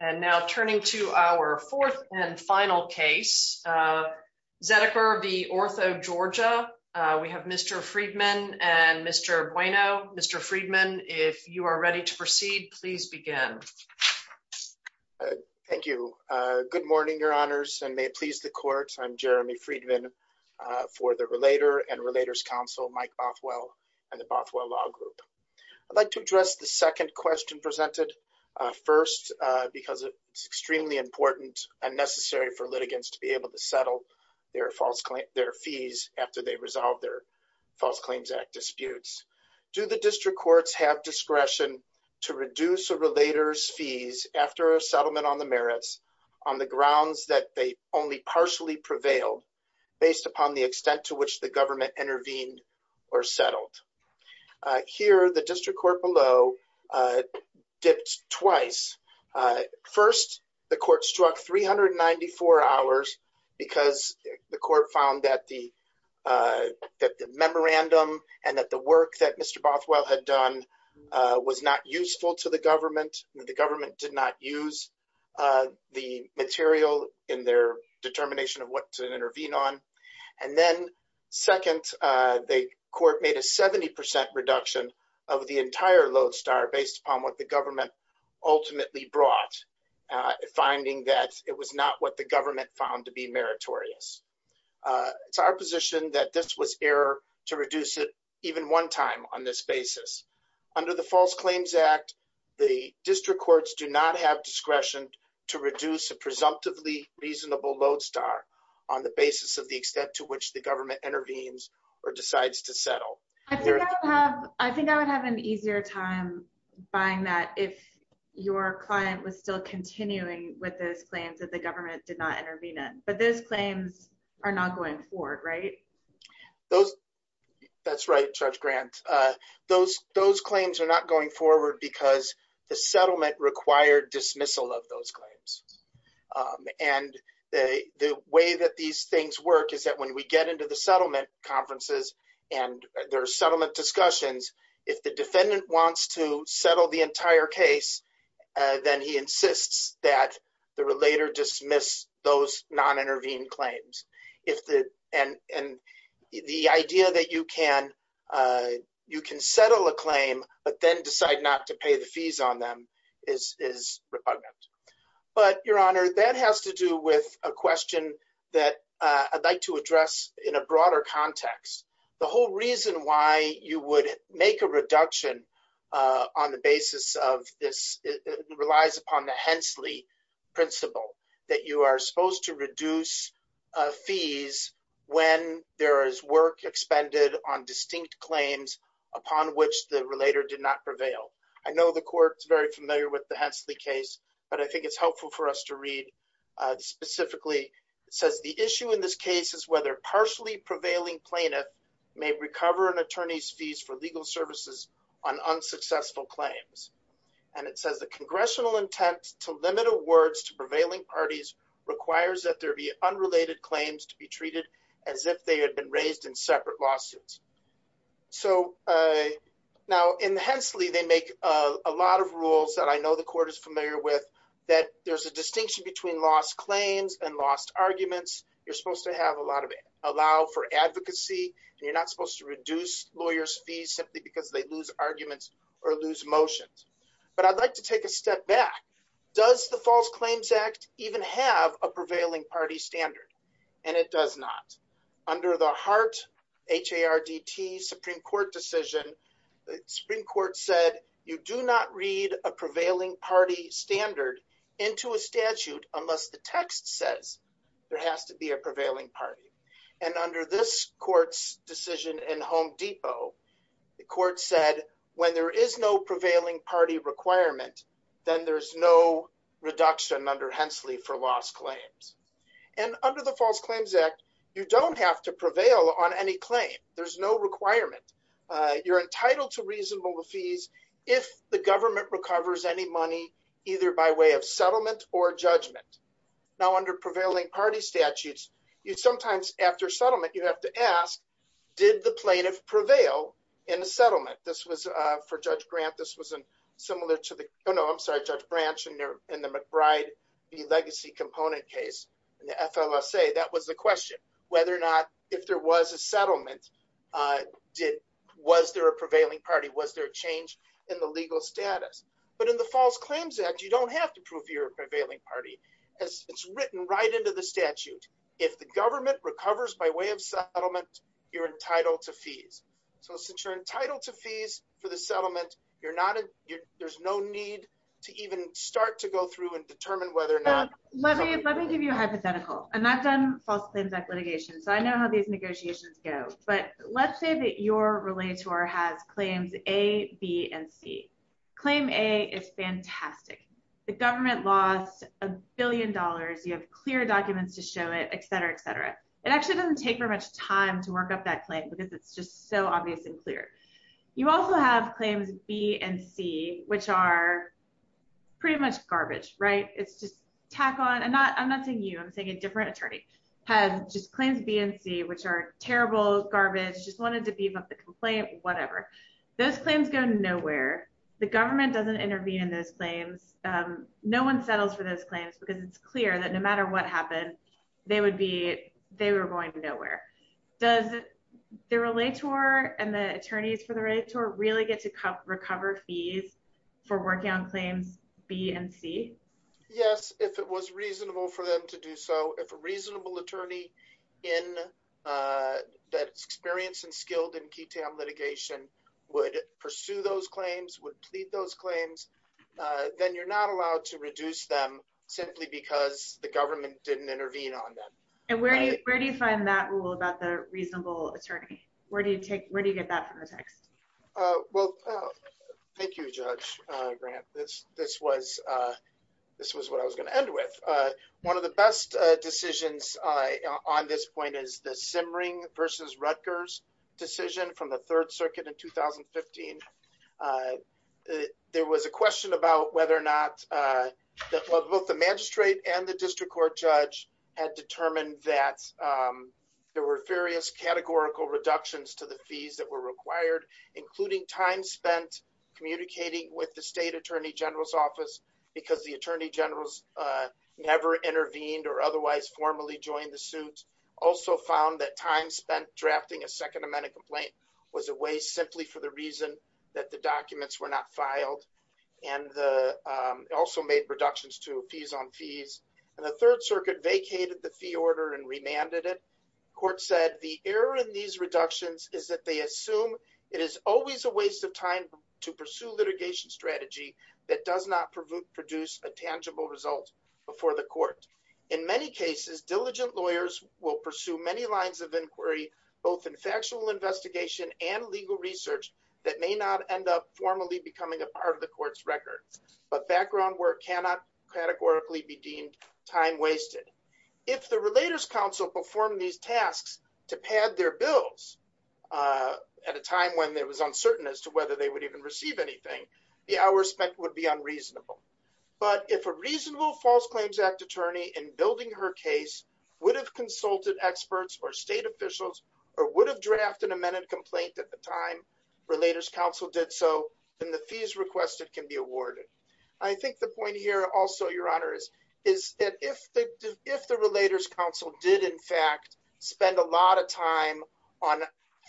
And now turning to our fourth and final case, Zediker v. Orthogeorgia. We have Mr. Friedman and Mr. Bueno. Mr. Friedman, if you are ready to proceed, please begin. Thank you. Good morning, your honors, and may it please the court. I'm Jeremy Friedman for the Relator and Relators Council, Mike Bothwell and the Bothwell Law Group. I'd like to address the second question presented first because it's extremely important and necessary for litigants to be able to settle their fees after they resolve their False Claims Act disputes. Do the district courts have discretion to reduce a relator's fees after a settlement on the merits on the grounds that they only partially prevailed based upon the extent to which the government intervened or settled? Here, the district court below dipped twice. First, the court struck 394 hours because the court found that the memorandum and that the work that Mr. Bothwell had done was not useful to the government. The government did not use the material in their determination of what to intervene on. And then second, the court made a 70% reduction of the entire load star based upon what the government ultimately brought, finding that it was not what the government found to be meritorious. It's our position that this was error to reduce it even one time on this basis. Under the False Claims Act, the district courts do not have discretion to reduce a presumptively reasonable load star on the basis of the extent to which the government intervenes or decides to settle. I think I would have an easier time buying that if your client was still continuing with those claims that the government did not intervene in. But those claims are not going forward, right? That's right, Judge Grant. Those claims are not going forward because the settlement required dismissal of those claims. And the way that these things work is that when we get into the settlement conferences and there are settlement discussions, if the defendant wants to settle the entire case, then he insists that the relator dismiss those non-intervened claims. And the idea that you can settle a claim but then decide not to pay the fees on them is repugnant. But, Your Honor, that has to do with a question that I'd like to address in a broader context. The whole reason why you would make a reduction on the basis of this relies upon the fees when there is work expended on distinct claims upon which the relator did not prevail. I know the Court's very familiar with the Hensley case, but I think it's helpful for us to read specifically. It says, the issue in this case is whether partially prevailing plaintiff may recover an attorney's fees for legal services on unsuccessful claims. And it says, congressional intent to limit awards to prevailing parties requires that there be unrelated claims to be treated as if they had been raised in separate lawsuits. Now, in Hensley, they make a lot of rules that I know the Court is familiar with that there's a distinction between lost claims and lost arguments. You're supposed to allow for advocacy and you're not supposed to reduce lawyers' fees simply because they lose arguments or lose motions. But I'd like to take a step back. Does the False Claims Act even have a prevailing party standard? And it does not. Under the Hart, H-A-R-D-T Supreme Court decision, the Supreme Court said, you do not read a prevailing party standard into a statute unless the text says there has to be a prevailing party. And under this Court's decision in Home Depot, the Court said, when there is no prevailing party requirement, then there's no reduction under Hensley for lost claims. And under the False Claims Act, you don't have to prevail on any claim. There's no requirement. You're entitled to reasonable fees if the government recovers any money, either by way of settlement or judgment. Now, under prevailing party statutes, you sometimes, after settlement, you have to ask, did the plaintiff prevail in the settlement? This was for Judge Grant. This was similar to the, no, I'm sorry, Judge Branch in the McBride v. Legacy Component case in the FLSA. That was the question, whether or not, if there was a settlement, was there a prevailing party? Was there a change in the legal status? But in the False Claims Act, you don't have to prove you're a prevailing party. It's written right into the statute. If the government recovers by way of settlement, you're entitled to fees. So since you're entitled to fees for the settlement, you're not, there's no need to even start to go through and determine whether or not. Let me give you a hypothetical. And I've done False Claims Act litigation, so I know how these negotiations go. But let's say that your relator has claims A, B, and C. Claim A is fantastic. The government lost a billion dollars. You have clear documents to show it, et cetera, et cetera. It actually doesn't take very much time to work up that claim because it's just so obvious and clear. You also have claims B and C, which are pretty much garbage, right? It's just tack on. And I'm not saying you, I'm saying a different attorney has just claims B and C, which are terrible, garbage, just wanted to beef up the complaint, whatever. Those claims go nowhere. The government doesn't intervene in those claims. No one settles for those claims because it's clear that no matter what happened, they were going nowhere. Does the relator and the attorneys for the relator really get to recover fees for working on claims B and C? Yes, if it was reasonable for them to do so. If a reasonable attorney that's experienced and skilled in key town litigation would pursue those to reduce them simply because the government didn't intervene on them. And where do you find that rule about the reasonable attorney? Where do you get that from your text? Well, thank you, Judge Grant. This was what I was going to end with. One of the best decisions on this point is the Simmering versus Rutgers decision from the third circuit in 2015. There was a question about whether or not, both the magistrate and the district court judge had determined that there were various categorical reductions to the fees that were required, including time spent communicating with the state attorney general's office because the attorney generals never intervened or otherwise formally joined the suit. Also found that time spent drafting a second amendment complaint was a waste simply for reason that the documents were not filed and also made reductions to fees on fees. And the third circuit vacated the fee order and remanded it. Court said the error in these reductions is that they assume it is always a waste of time to pursue litigation strategy that does not produce a tangible result before the court. In many cases, diligent lawyers will pursue many lines of inquiry, both in factual investigation and legal research that may not end up formally becoming a part of the court's record. But background work cannot categorically be deemed time wasted. If the Relators Council performed these tasks to pad their bills at a time when it was uncertain as to whether they would even receive anything, the hours spent would be unreasonable. But if a reasonable False Claims Act attorney in building her case would have experts or state officials or would have drafted a minute complaint at the time Relators Council did so, then the fees requested can be awarded. I think the point here also, Your Honor, is that if the Relators Council did in fact spend a lot of time on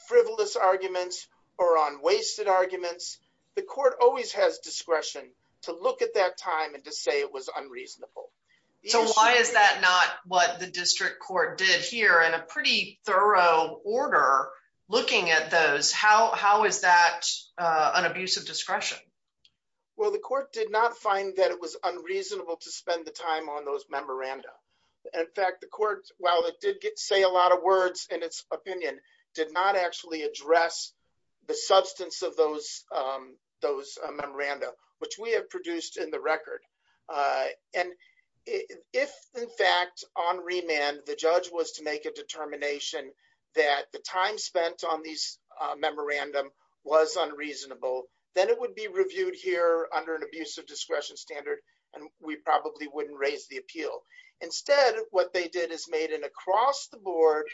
frivolous arguments or on wasted arguments, the court always has discretion to look at that time and to say it was unreasonable. So why is that not what the district court did here in a pretty thorough order looking at those? How is that an abuse of discretion? Well, the court did not find that it was unreasonable to spend the time on those memoranda. In fact, the court, while it did say a lot of words in its opinion, did not actually address the substance of those memoranda, which we have produced in the record. And if, in fact, on remand, the judge was to make a determination that the time spent on these memoranda was unreasonable, then it would be reviewed here under an abuse of discretion standard, and we probably wouldn't raise the appeal. Instead, what they did is made an across-the-board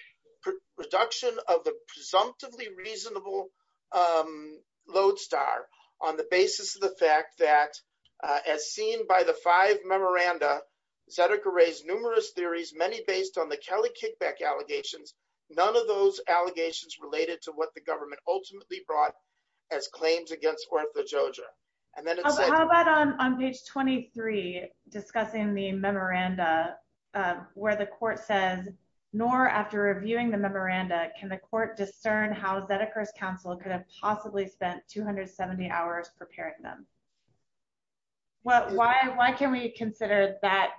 production of the presumptively reasonable lodestar on the basis of the fact that, as seen by the five memoranda, Zedeker raised numerous theories, many based on the Kelly kickback allegations, none of those allegations related to what the government ultimately brought as claims against Ortha Jojo. How about on page 23, discussing the memoranda, where the court says, nor after reviewing the memoranda, can the court discern how Zedeker's counsel could have possibly spent 270 hours preparing them? Well, why can we consider that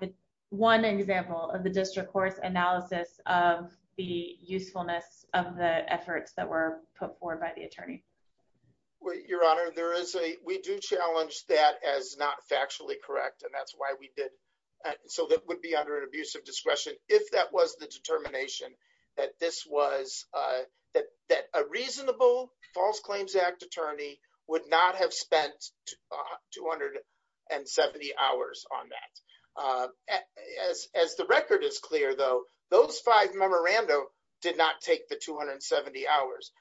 one example of the district court's analysis of the usefulness of the efforts that were put forward by the attorney? Your Honor, we do challenge that as not factually correct, and that's why we did, so that would be under an abuse of discretion if that was the determination that this was, that a reasonable False Claims Act attorney would not have spent 270 hours on that. As the record is clear, though, those five memoranda did not take the 270 hours.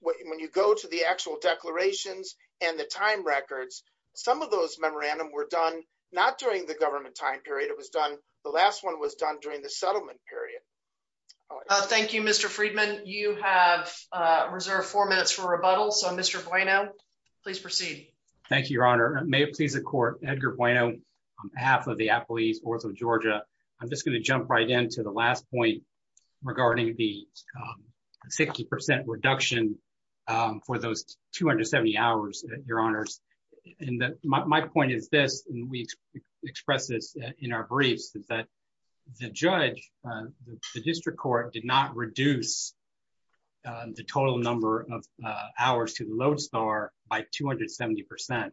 When you go to the actual declarations and the time records, some of those memoranda were done during the government time period, it was done, the last one was done during the settlement period. Thank you, Mr. Friedman. You have reserved four minutes for rebuttal, so Mr. Bueno, please proceed. Thank you, Your Honor. May it please the court, Edgar Bueno, on behalf of the Apple East Ortha of Georgia, I'm just going to jump right into the last point regarding the 60% reduction for those 270 hours, Your Honors, and my point is this, and we expressed this in our briefs, that the judge, the district court, did not reduce the total number of hours to the LODESTAR by 270%,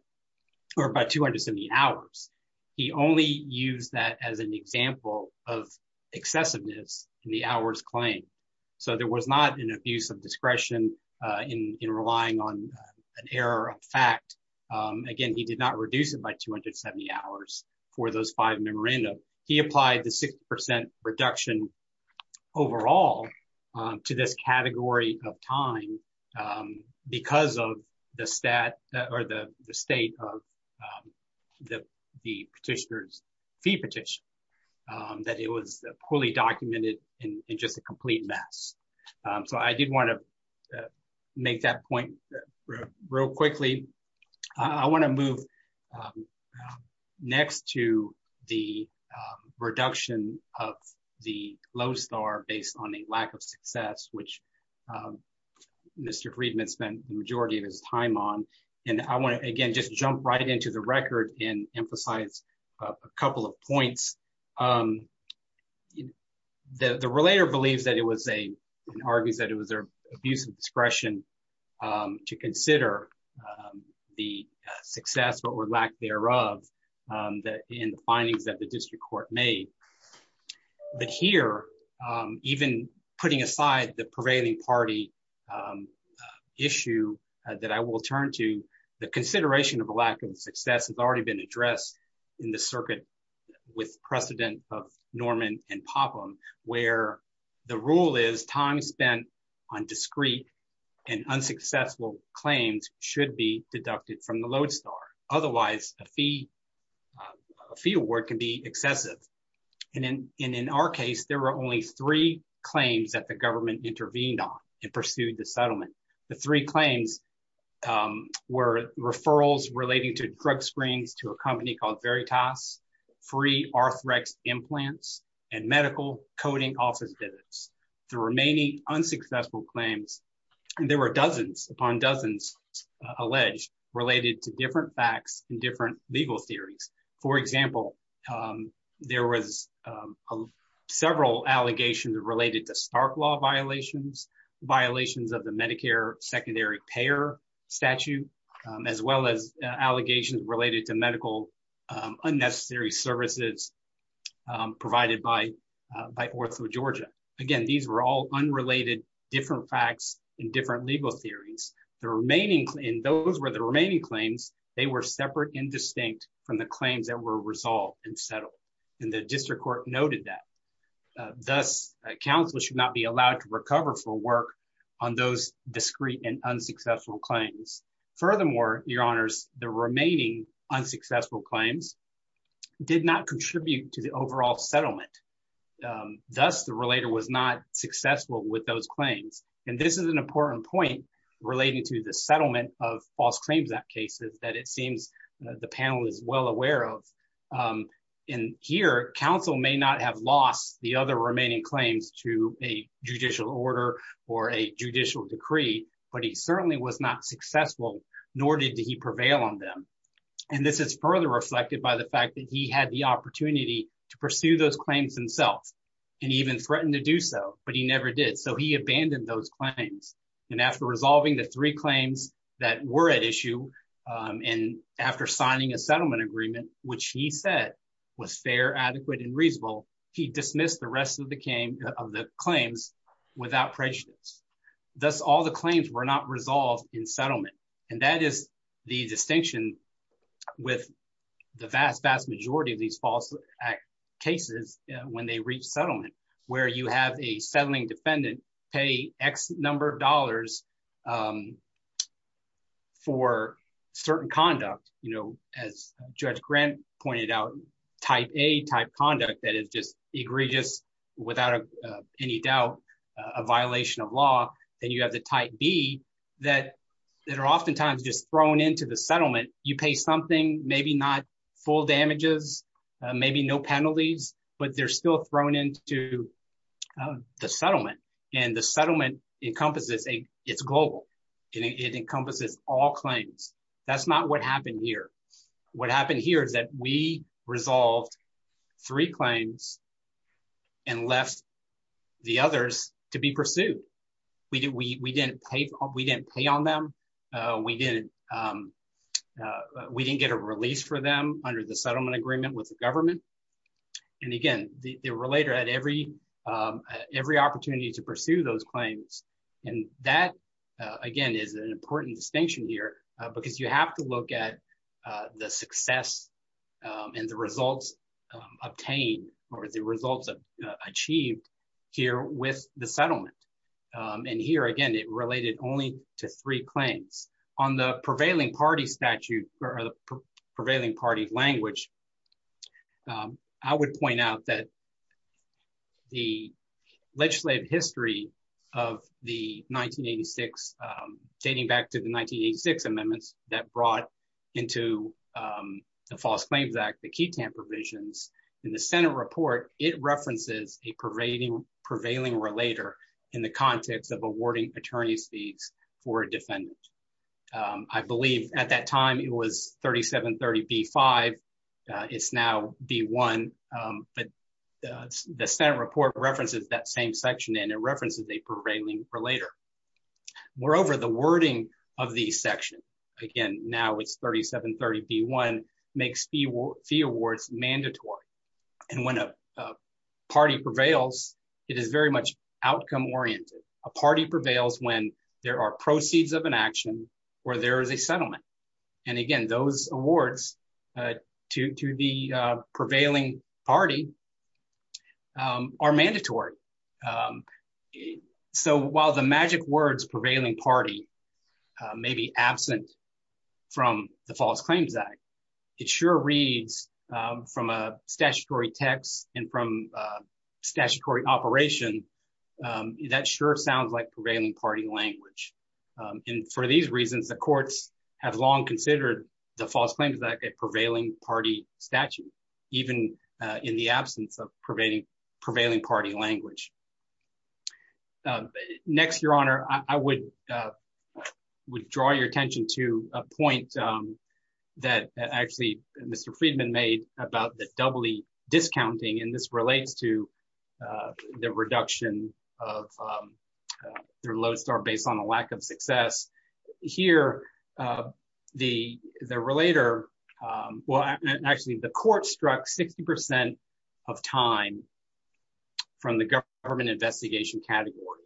or by 270 hours. He only used that as an example of excessiveness in the hours claimed, so there was not an abuse of discretion in relying on an error of fact. Again, he did not reduce it by 270 hours for those five memoranda. He applied the 60% reduction overall to this category of time because of the stat or the state of the petitioner's fee petition, that it was fully documented in just a complete mess, so I did want to make that point real quickly. I want to move next to the reduction of the LODESTAR based on a lack of success, which Mr. Friedman spent the majority of his time on, and I want to again just jump right into the record and emphasize a couple of points. The relator believes that it was an abuse of discretion to consider the success or lack thereof in the findings that the district court made, but here, even putting aside the prevailing party issue that I will turn to, the consideration of a in the circuit with precedent of Norman and Popham, where the rule is time spent on discreet and unsuccessful claims should be deducted from the LODESTAR. Otherwise, a fee award can be excessive, and in our case, there were only three claims that the government intervened on and pursued the settlement. The three claims were referrals relating to drug screens to a company called Veritas, free arthrex implants, and medical coding office visits. The remaining unsuccessful claims, there were dozens upon dozens alleged related to different facts and different legal theories. For example, there was several allegations related to Stark law violations, violations of the Medicare secondary payer statute, as well as allegations related to medical unnecessary services provided by OrthoGeorgia. Again, these were all unrelated different facts and different legal theories. Those were the remaining claims. They were separate and distinct from the claims that were resolved and settled, and the district court noted that. Thus, counsel should not be allowed to recover for work on those discreet and unsuccessful claims. Furthermore, your honors, the remaining unsuccessful claims did not contribute to the overall settlement. Thus, the relator was not successful with those claims, and this is an important point relating to the settlement of false claims at cases that it seems the panel is well aware of. Here, counsel may not have lost the other remaining claims to a judicial order or a judicial decree, but he certainly was not successful, nor did he prevail on them, and this is further reflected by the fact that he had the opportunity to pursue those claims himself, and even threatened to do so, but he never did, so he abandoned those claims, and after resolving the three claims that were at issue, and after signing a settlement agreement, which he said was fair, adequate, and reasonable, he dismissed the rest of the claims without prejudice. Thus, all the claims were not resolved in settlement, and that is the distinction with the vast, vast majority of these false act cases when they reach settlement, where you have a settling defendant pay X number of dollars for certain conduct, you know, as without any doubt, a violation of law, then you have the type B that are oftentimes just thrown into the settlement. You pay something, maybe not full damages, maybe no penalties, but they're still thrown into the settlement, and the settlement encompasses, it's global, it encompasses all claims. That's not what happened here. What happened here is that we resolved three claims and left the others to be pursued. We didn't pay on them. We didn't get a release for them under the settlement agreement with the government, and again, the relator had every opportunity to pursue those claims, and that, again, is an important distinction here, because you have to look at the success and the results obtained, or the results achieved here with the settlement, and here, again, it related only to three claims. On the prevailing party statute, or the prevailing party language, I would point out that the legislative history of the 1986, dating back to the 1986 amendments that brought into the False Claims Act, the QTAM provisions, in the Senate report, it references a prevailing relator in the context of awarding attorney's fees for a defendant. I believe at that time, it was 3730 B-5. It's now B-1, but the Senate report references that same section, and it makes fee awards mandatory, and when a party prevails, it is very much outcome-oriented. A party prevails when there are proceeds of an action or there is a settlement, and again, those awards to the prevailing party are mandatory, so while the magic words prevailing party may be absent from the False Claims Act, it sure reads from a statutory text and from statutory operation, that sure sounds like prevailing party language, and for these reasons, the courts have long considered the False Claims Act a prevailing party statute, even in the absence of prevailing party language. Next, Your Honor, I would draw your attention to a point that actually Mr. Friedman made about the doubly discounting, and this relates to the reduction of their lodestar based on the lack of success. Here, the relator, well, actually, the court struck 60 percent of time from the government investigation category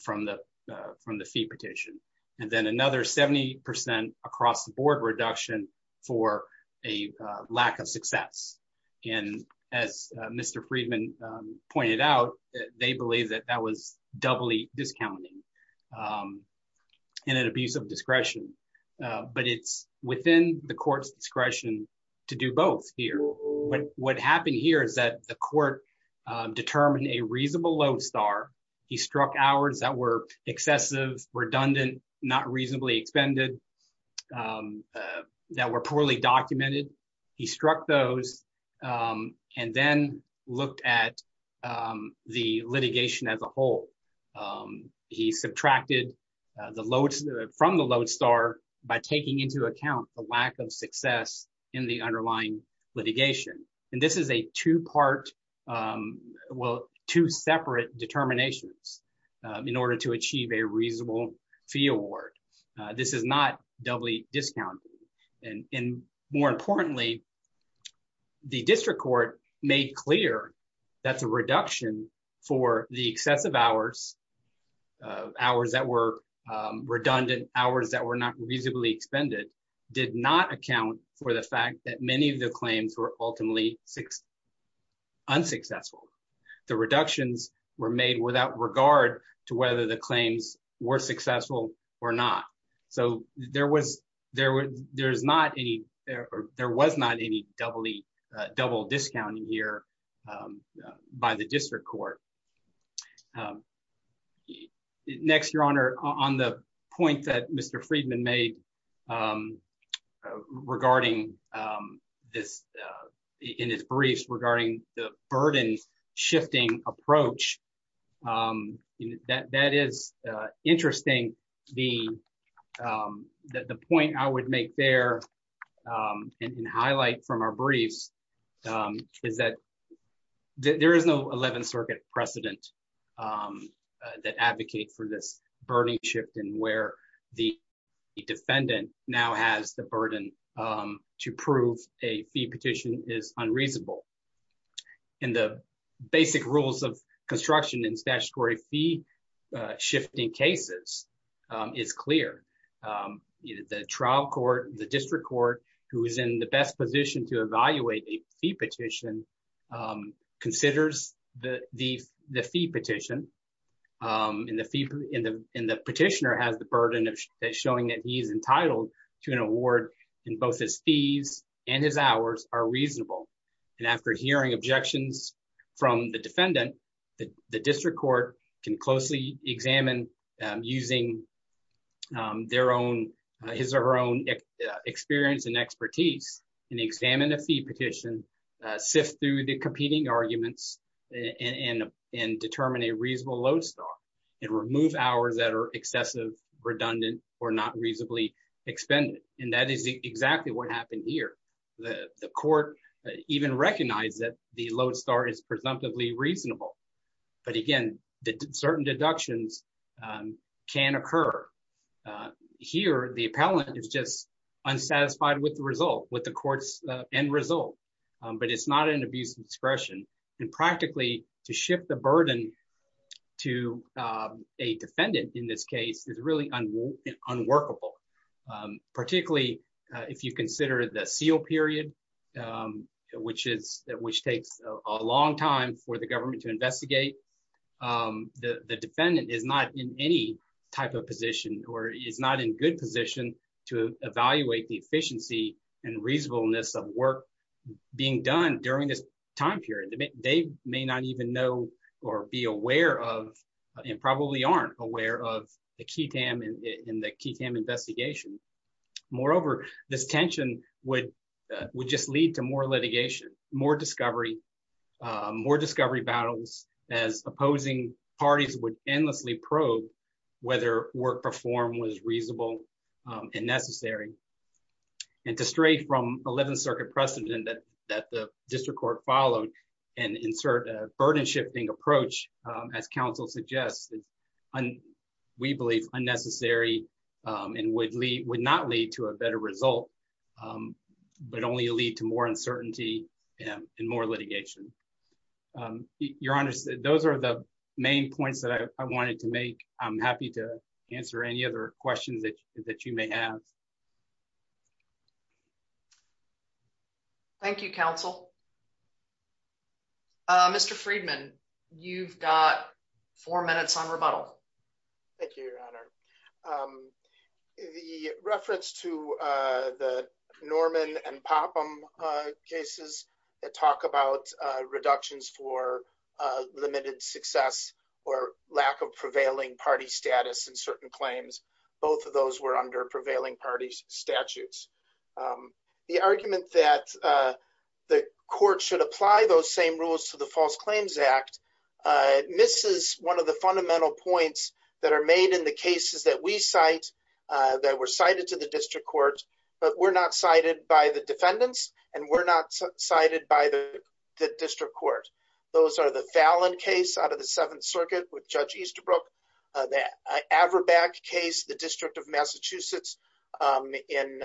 from the fee petition, and then another 70 percent across the board reduction for a lack of success, and as Mr. Friedman pointed out, they believe that that was doubly discounting and an abuse of discretion, but it's within the lodestar. He struck hours that were excessive, redundant, not reasonably expended, that were poorly documented. He struck those and then looked at the litigation as a whole. He subtracted the loads from the lodestar by taking into account the lack of success in the separate determinations in order to achieve a reasonable fee award. This is not doubly discounting, and more importantly, the district court made clear that the reduction for the excessive hours, hours that were redundant, hours that were not reasonably expended, did not account for the fact that many of the claims were ultimately unsuccessful. The reductions were made without regard to whether the claims were successful or not, so there was not any doubly, double discounting here by the district court. Next, Your Honor, on the point that Mr. Friedman made regarding this, in his briefs regarding the burden shifting approach, that is interesting. The point I would make there and highlight from our briefs is that there is no 11th Circuit precedent that advocate for this burden shift and where the defendant now has the burden to prove a fee petition is unreasonable. The basic rules of construction in statutory fee shifting cases is clear. The trial court, the district court, who is in the best position to evaluate a fee petition, considers the fee petition, and the petitioner has the burden of showing that he is entitled to an award and both his fees and his hours are reasonable. After hearing objections from the defendant, the district court can closely examine using his or her own experience and expertise and examine a fee petition, sift through the competing arguments, and determine a reasonable load star and remove hours that are excessive, redundant, or not reasonably expended, and that is exactly what happened here. The court even recognized that the load star is presumptively reasonable, but again, certain deductions can occur. Here, the appellant is just unsatisfied with the result, with the court's end result, but it's not an abuse of discretion, and practically to shift the burden to a defendant in this case is really unworkable, particularly if you consider the seal period, which takes a long time for the government to investigate. The defendant is not in any type of position or is not in good position to evaluate the efficiency and reasonableness of work being done during this time period. They may not even know or be aware of, and probably aren't aware of, the QTAM and the QTAM investigation. Moreover, this tension would just lead to more litigation, more discovery, more discovery battles, as opposing parties would endlessly probe whether work performed was reasonable and necessary. And to stray from 11th Circuit precedent that the district court followed and insert a burden-shifting approach, as counsel suggests, we believe unnecessary and would not lead to a better result, but only lead to more uncertainty and more litigation. Your Honor, those are the main points that I wanted to make. I'm happy to answer any other questions that you may have. Thank you, counsel. Mr. Friedman, you've got four minutes on rebuttal. Thank you, Your Honor. The reference to the Norman and Popham cases that talk about reductions for limited success or lack of prevailing party status in certain claims, both of those were under prevailing parties' statutes. The argument that the court should apply those same rules to the False Claims Act misses one of the fundamental points that are made in the cases that we cite, that were cited to the district court, but were not cited by the defendants and were not cited by the district court. The Fallon case out of the 7th Circuit with Judge Easterbrook, the Averbeck case, the District of Massachusetts in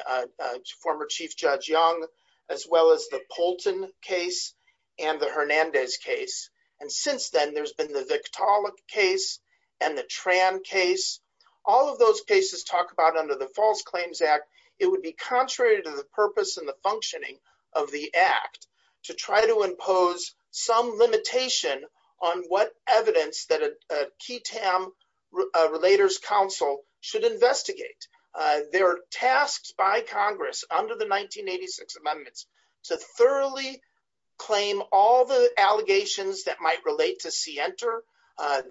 former Chief Judge Young, as well as the Poulton case and the Hernandez case. And since then, there's been the Victaulic case and the Tran case. All of those cases talk about under the False Claims Act, it would be contrary to the purpose and the functioning of the act to try to impose some limitation on what evidence that a QTAM Relators Council should investigate. They're tasked by Congress under the 1986 amendments to thoroughly claim all the allegations that might relate to CENTER.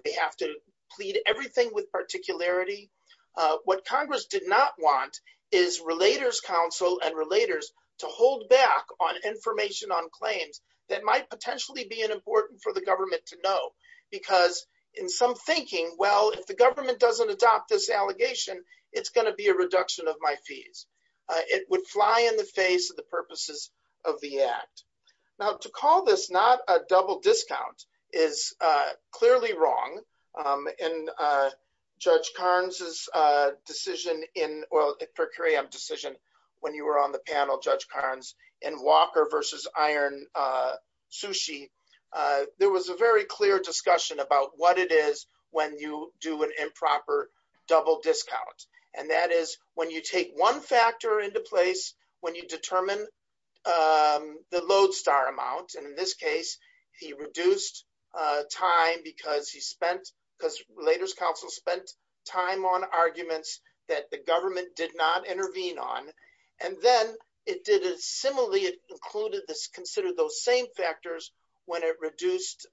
They have to plead everything with particularity. What Congress did not want is Relators Council and Relators to hold back on information on claims that might potentially be an important for the government to know. Because in some thinking, well, if the government doesn't adopt this allegation, it's going to be a reduction of my fees. It would fly in the face of the purposes of the act. Now, to call this not a double discount is clearly wrong. In Judge Karnes' decision, when you were on the panel, Judge Karnes, in Walker v. Iron Sushi, there was a very clear discussion about what it is when you do an improper double discount. And that is when you take one factor into place, when you determine the lodestar amount. And in this case, he reduced time because Relators Council spent time on arguments that the government did not intervene on. And then, similarly, it considered those same factors when it reduced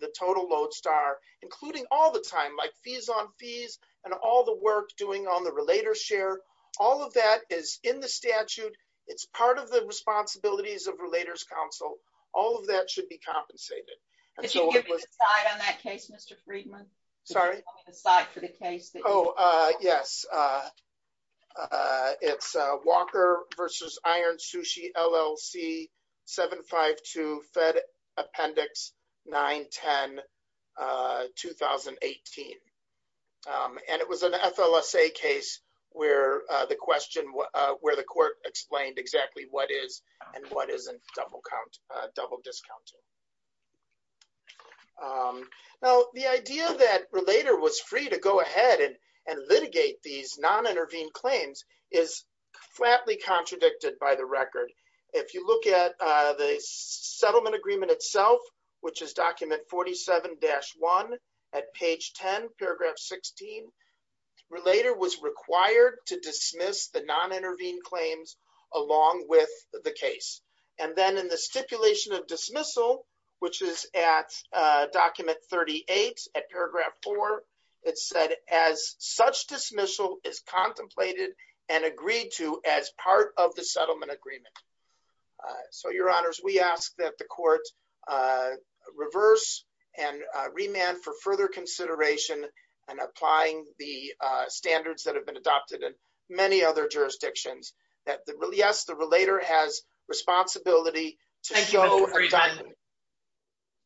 the total lodestar, including all the time, like fees on fees and all the work doing on the Relators share. All of that is in the statute. It's part of the responsibilities of Relators Council. All of that should be compensated. Could you give me the slide on that case, Mr. Friedman? Sorry? Could you give me the slide for the case that you're talking about? Yes. It's Walker v. Iron Sushi, LLC, 752 Fed Appendix 910, 2018. And it was an FLSA case where the court explained exactly what is and what isn't double discounting. Now, the idea that Relator was free to go ahead and litigate these non-intervened claims is flatly contradicted by the record. If you look at the settlement agreement itself, which is document 47-1 at page 10, paragraph 16, Relator was required to dismiss the which is at document 38 at paragraph 4. It said, as such dismissal is contemplated and agreed to as part of the settlement agreement. So, your honors, we ask that the court reverse and remand for further consideration and applying the standards that have been adopted in many other jurisdictions. Yes, the Relator has responsibility.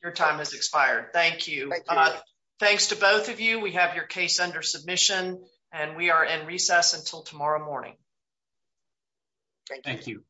Your time has expired. Thank you. Thanks to both of you. We have your case under submission and we are in recess until tomorrow morning. Thank you.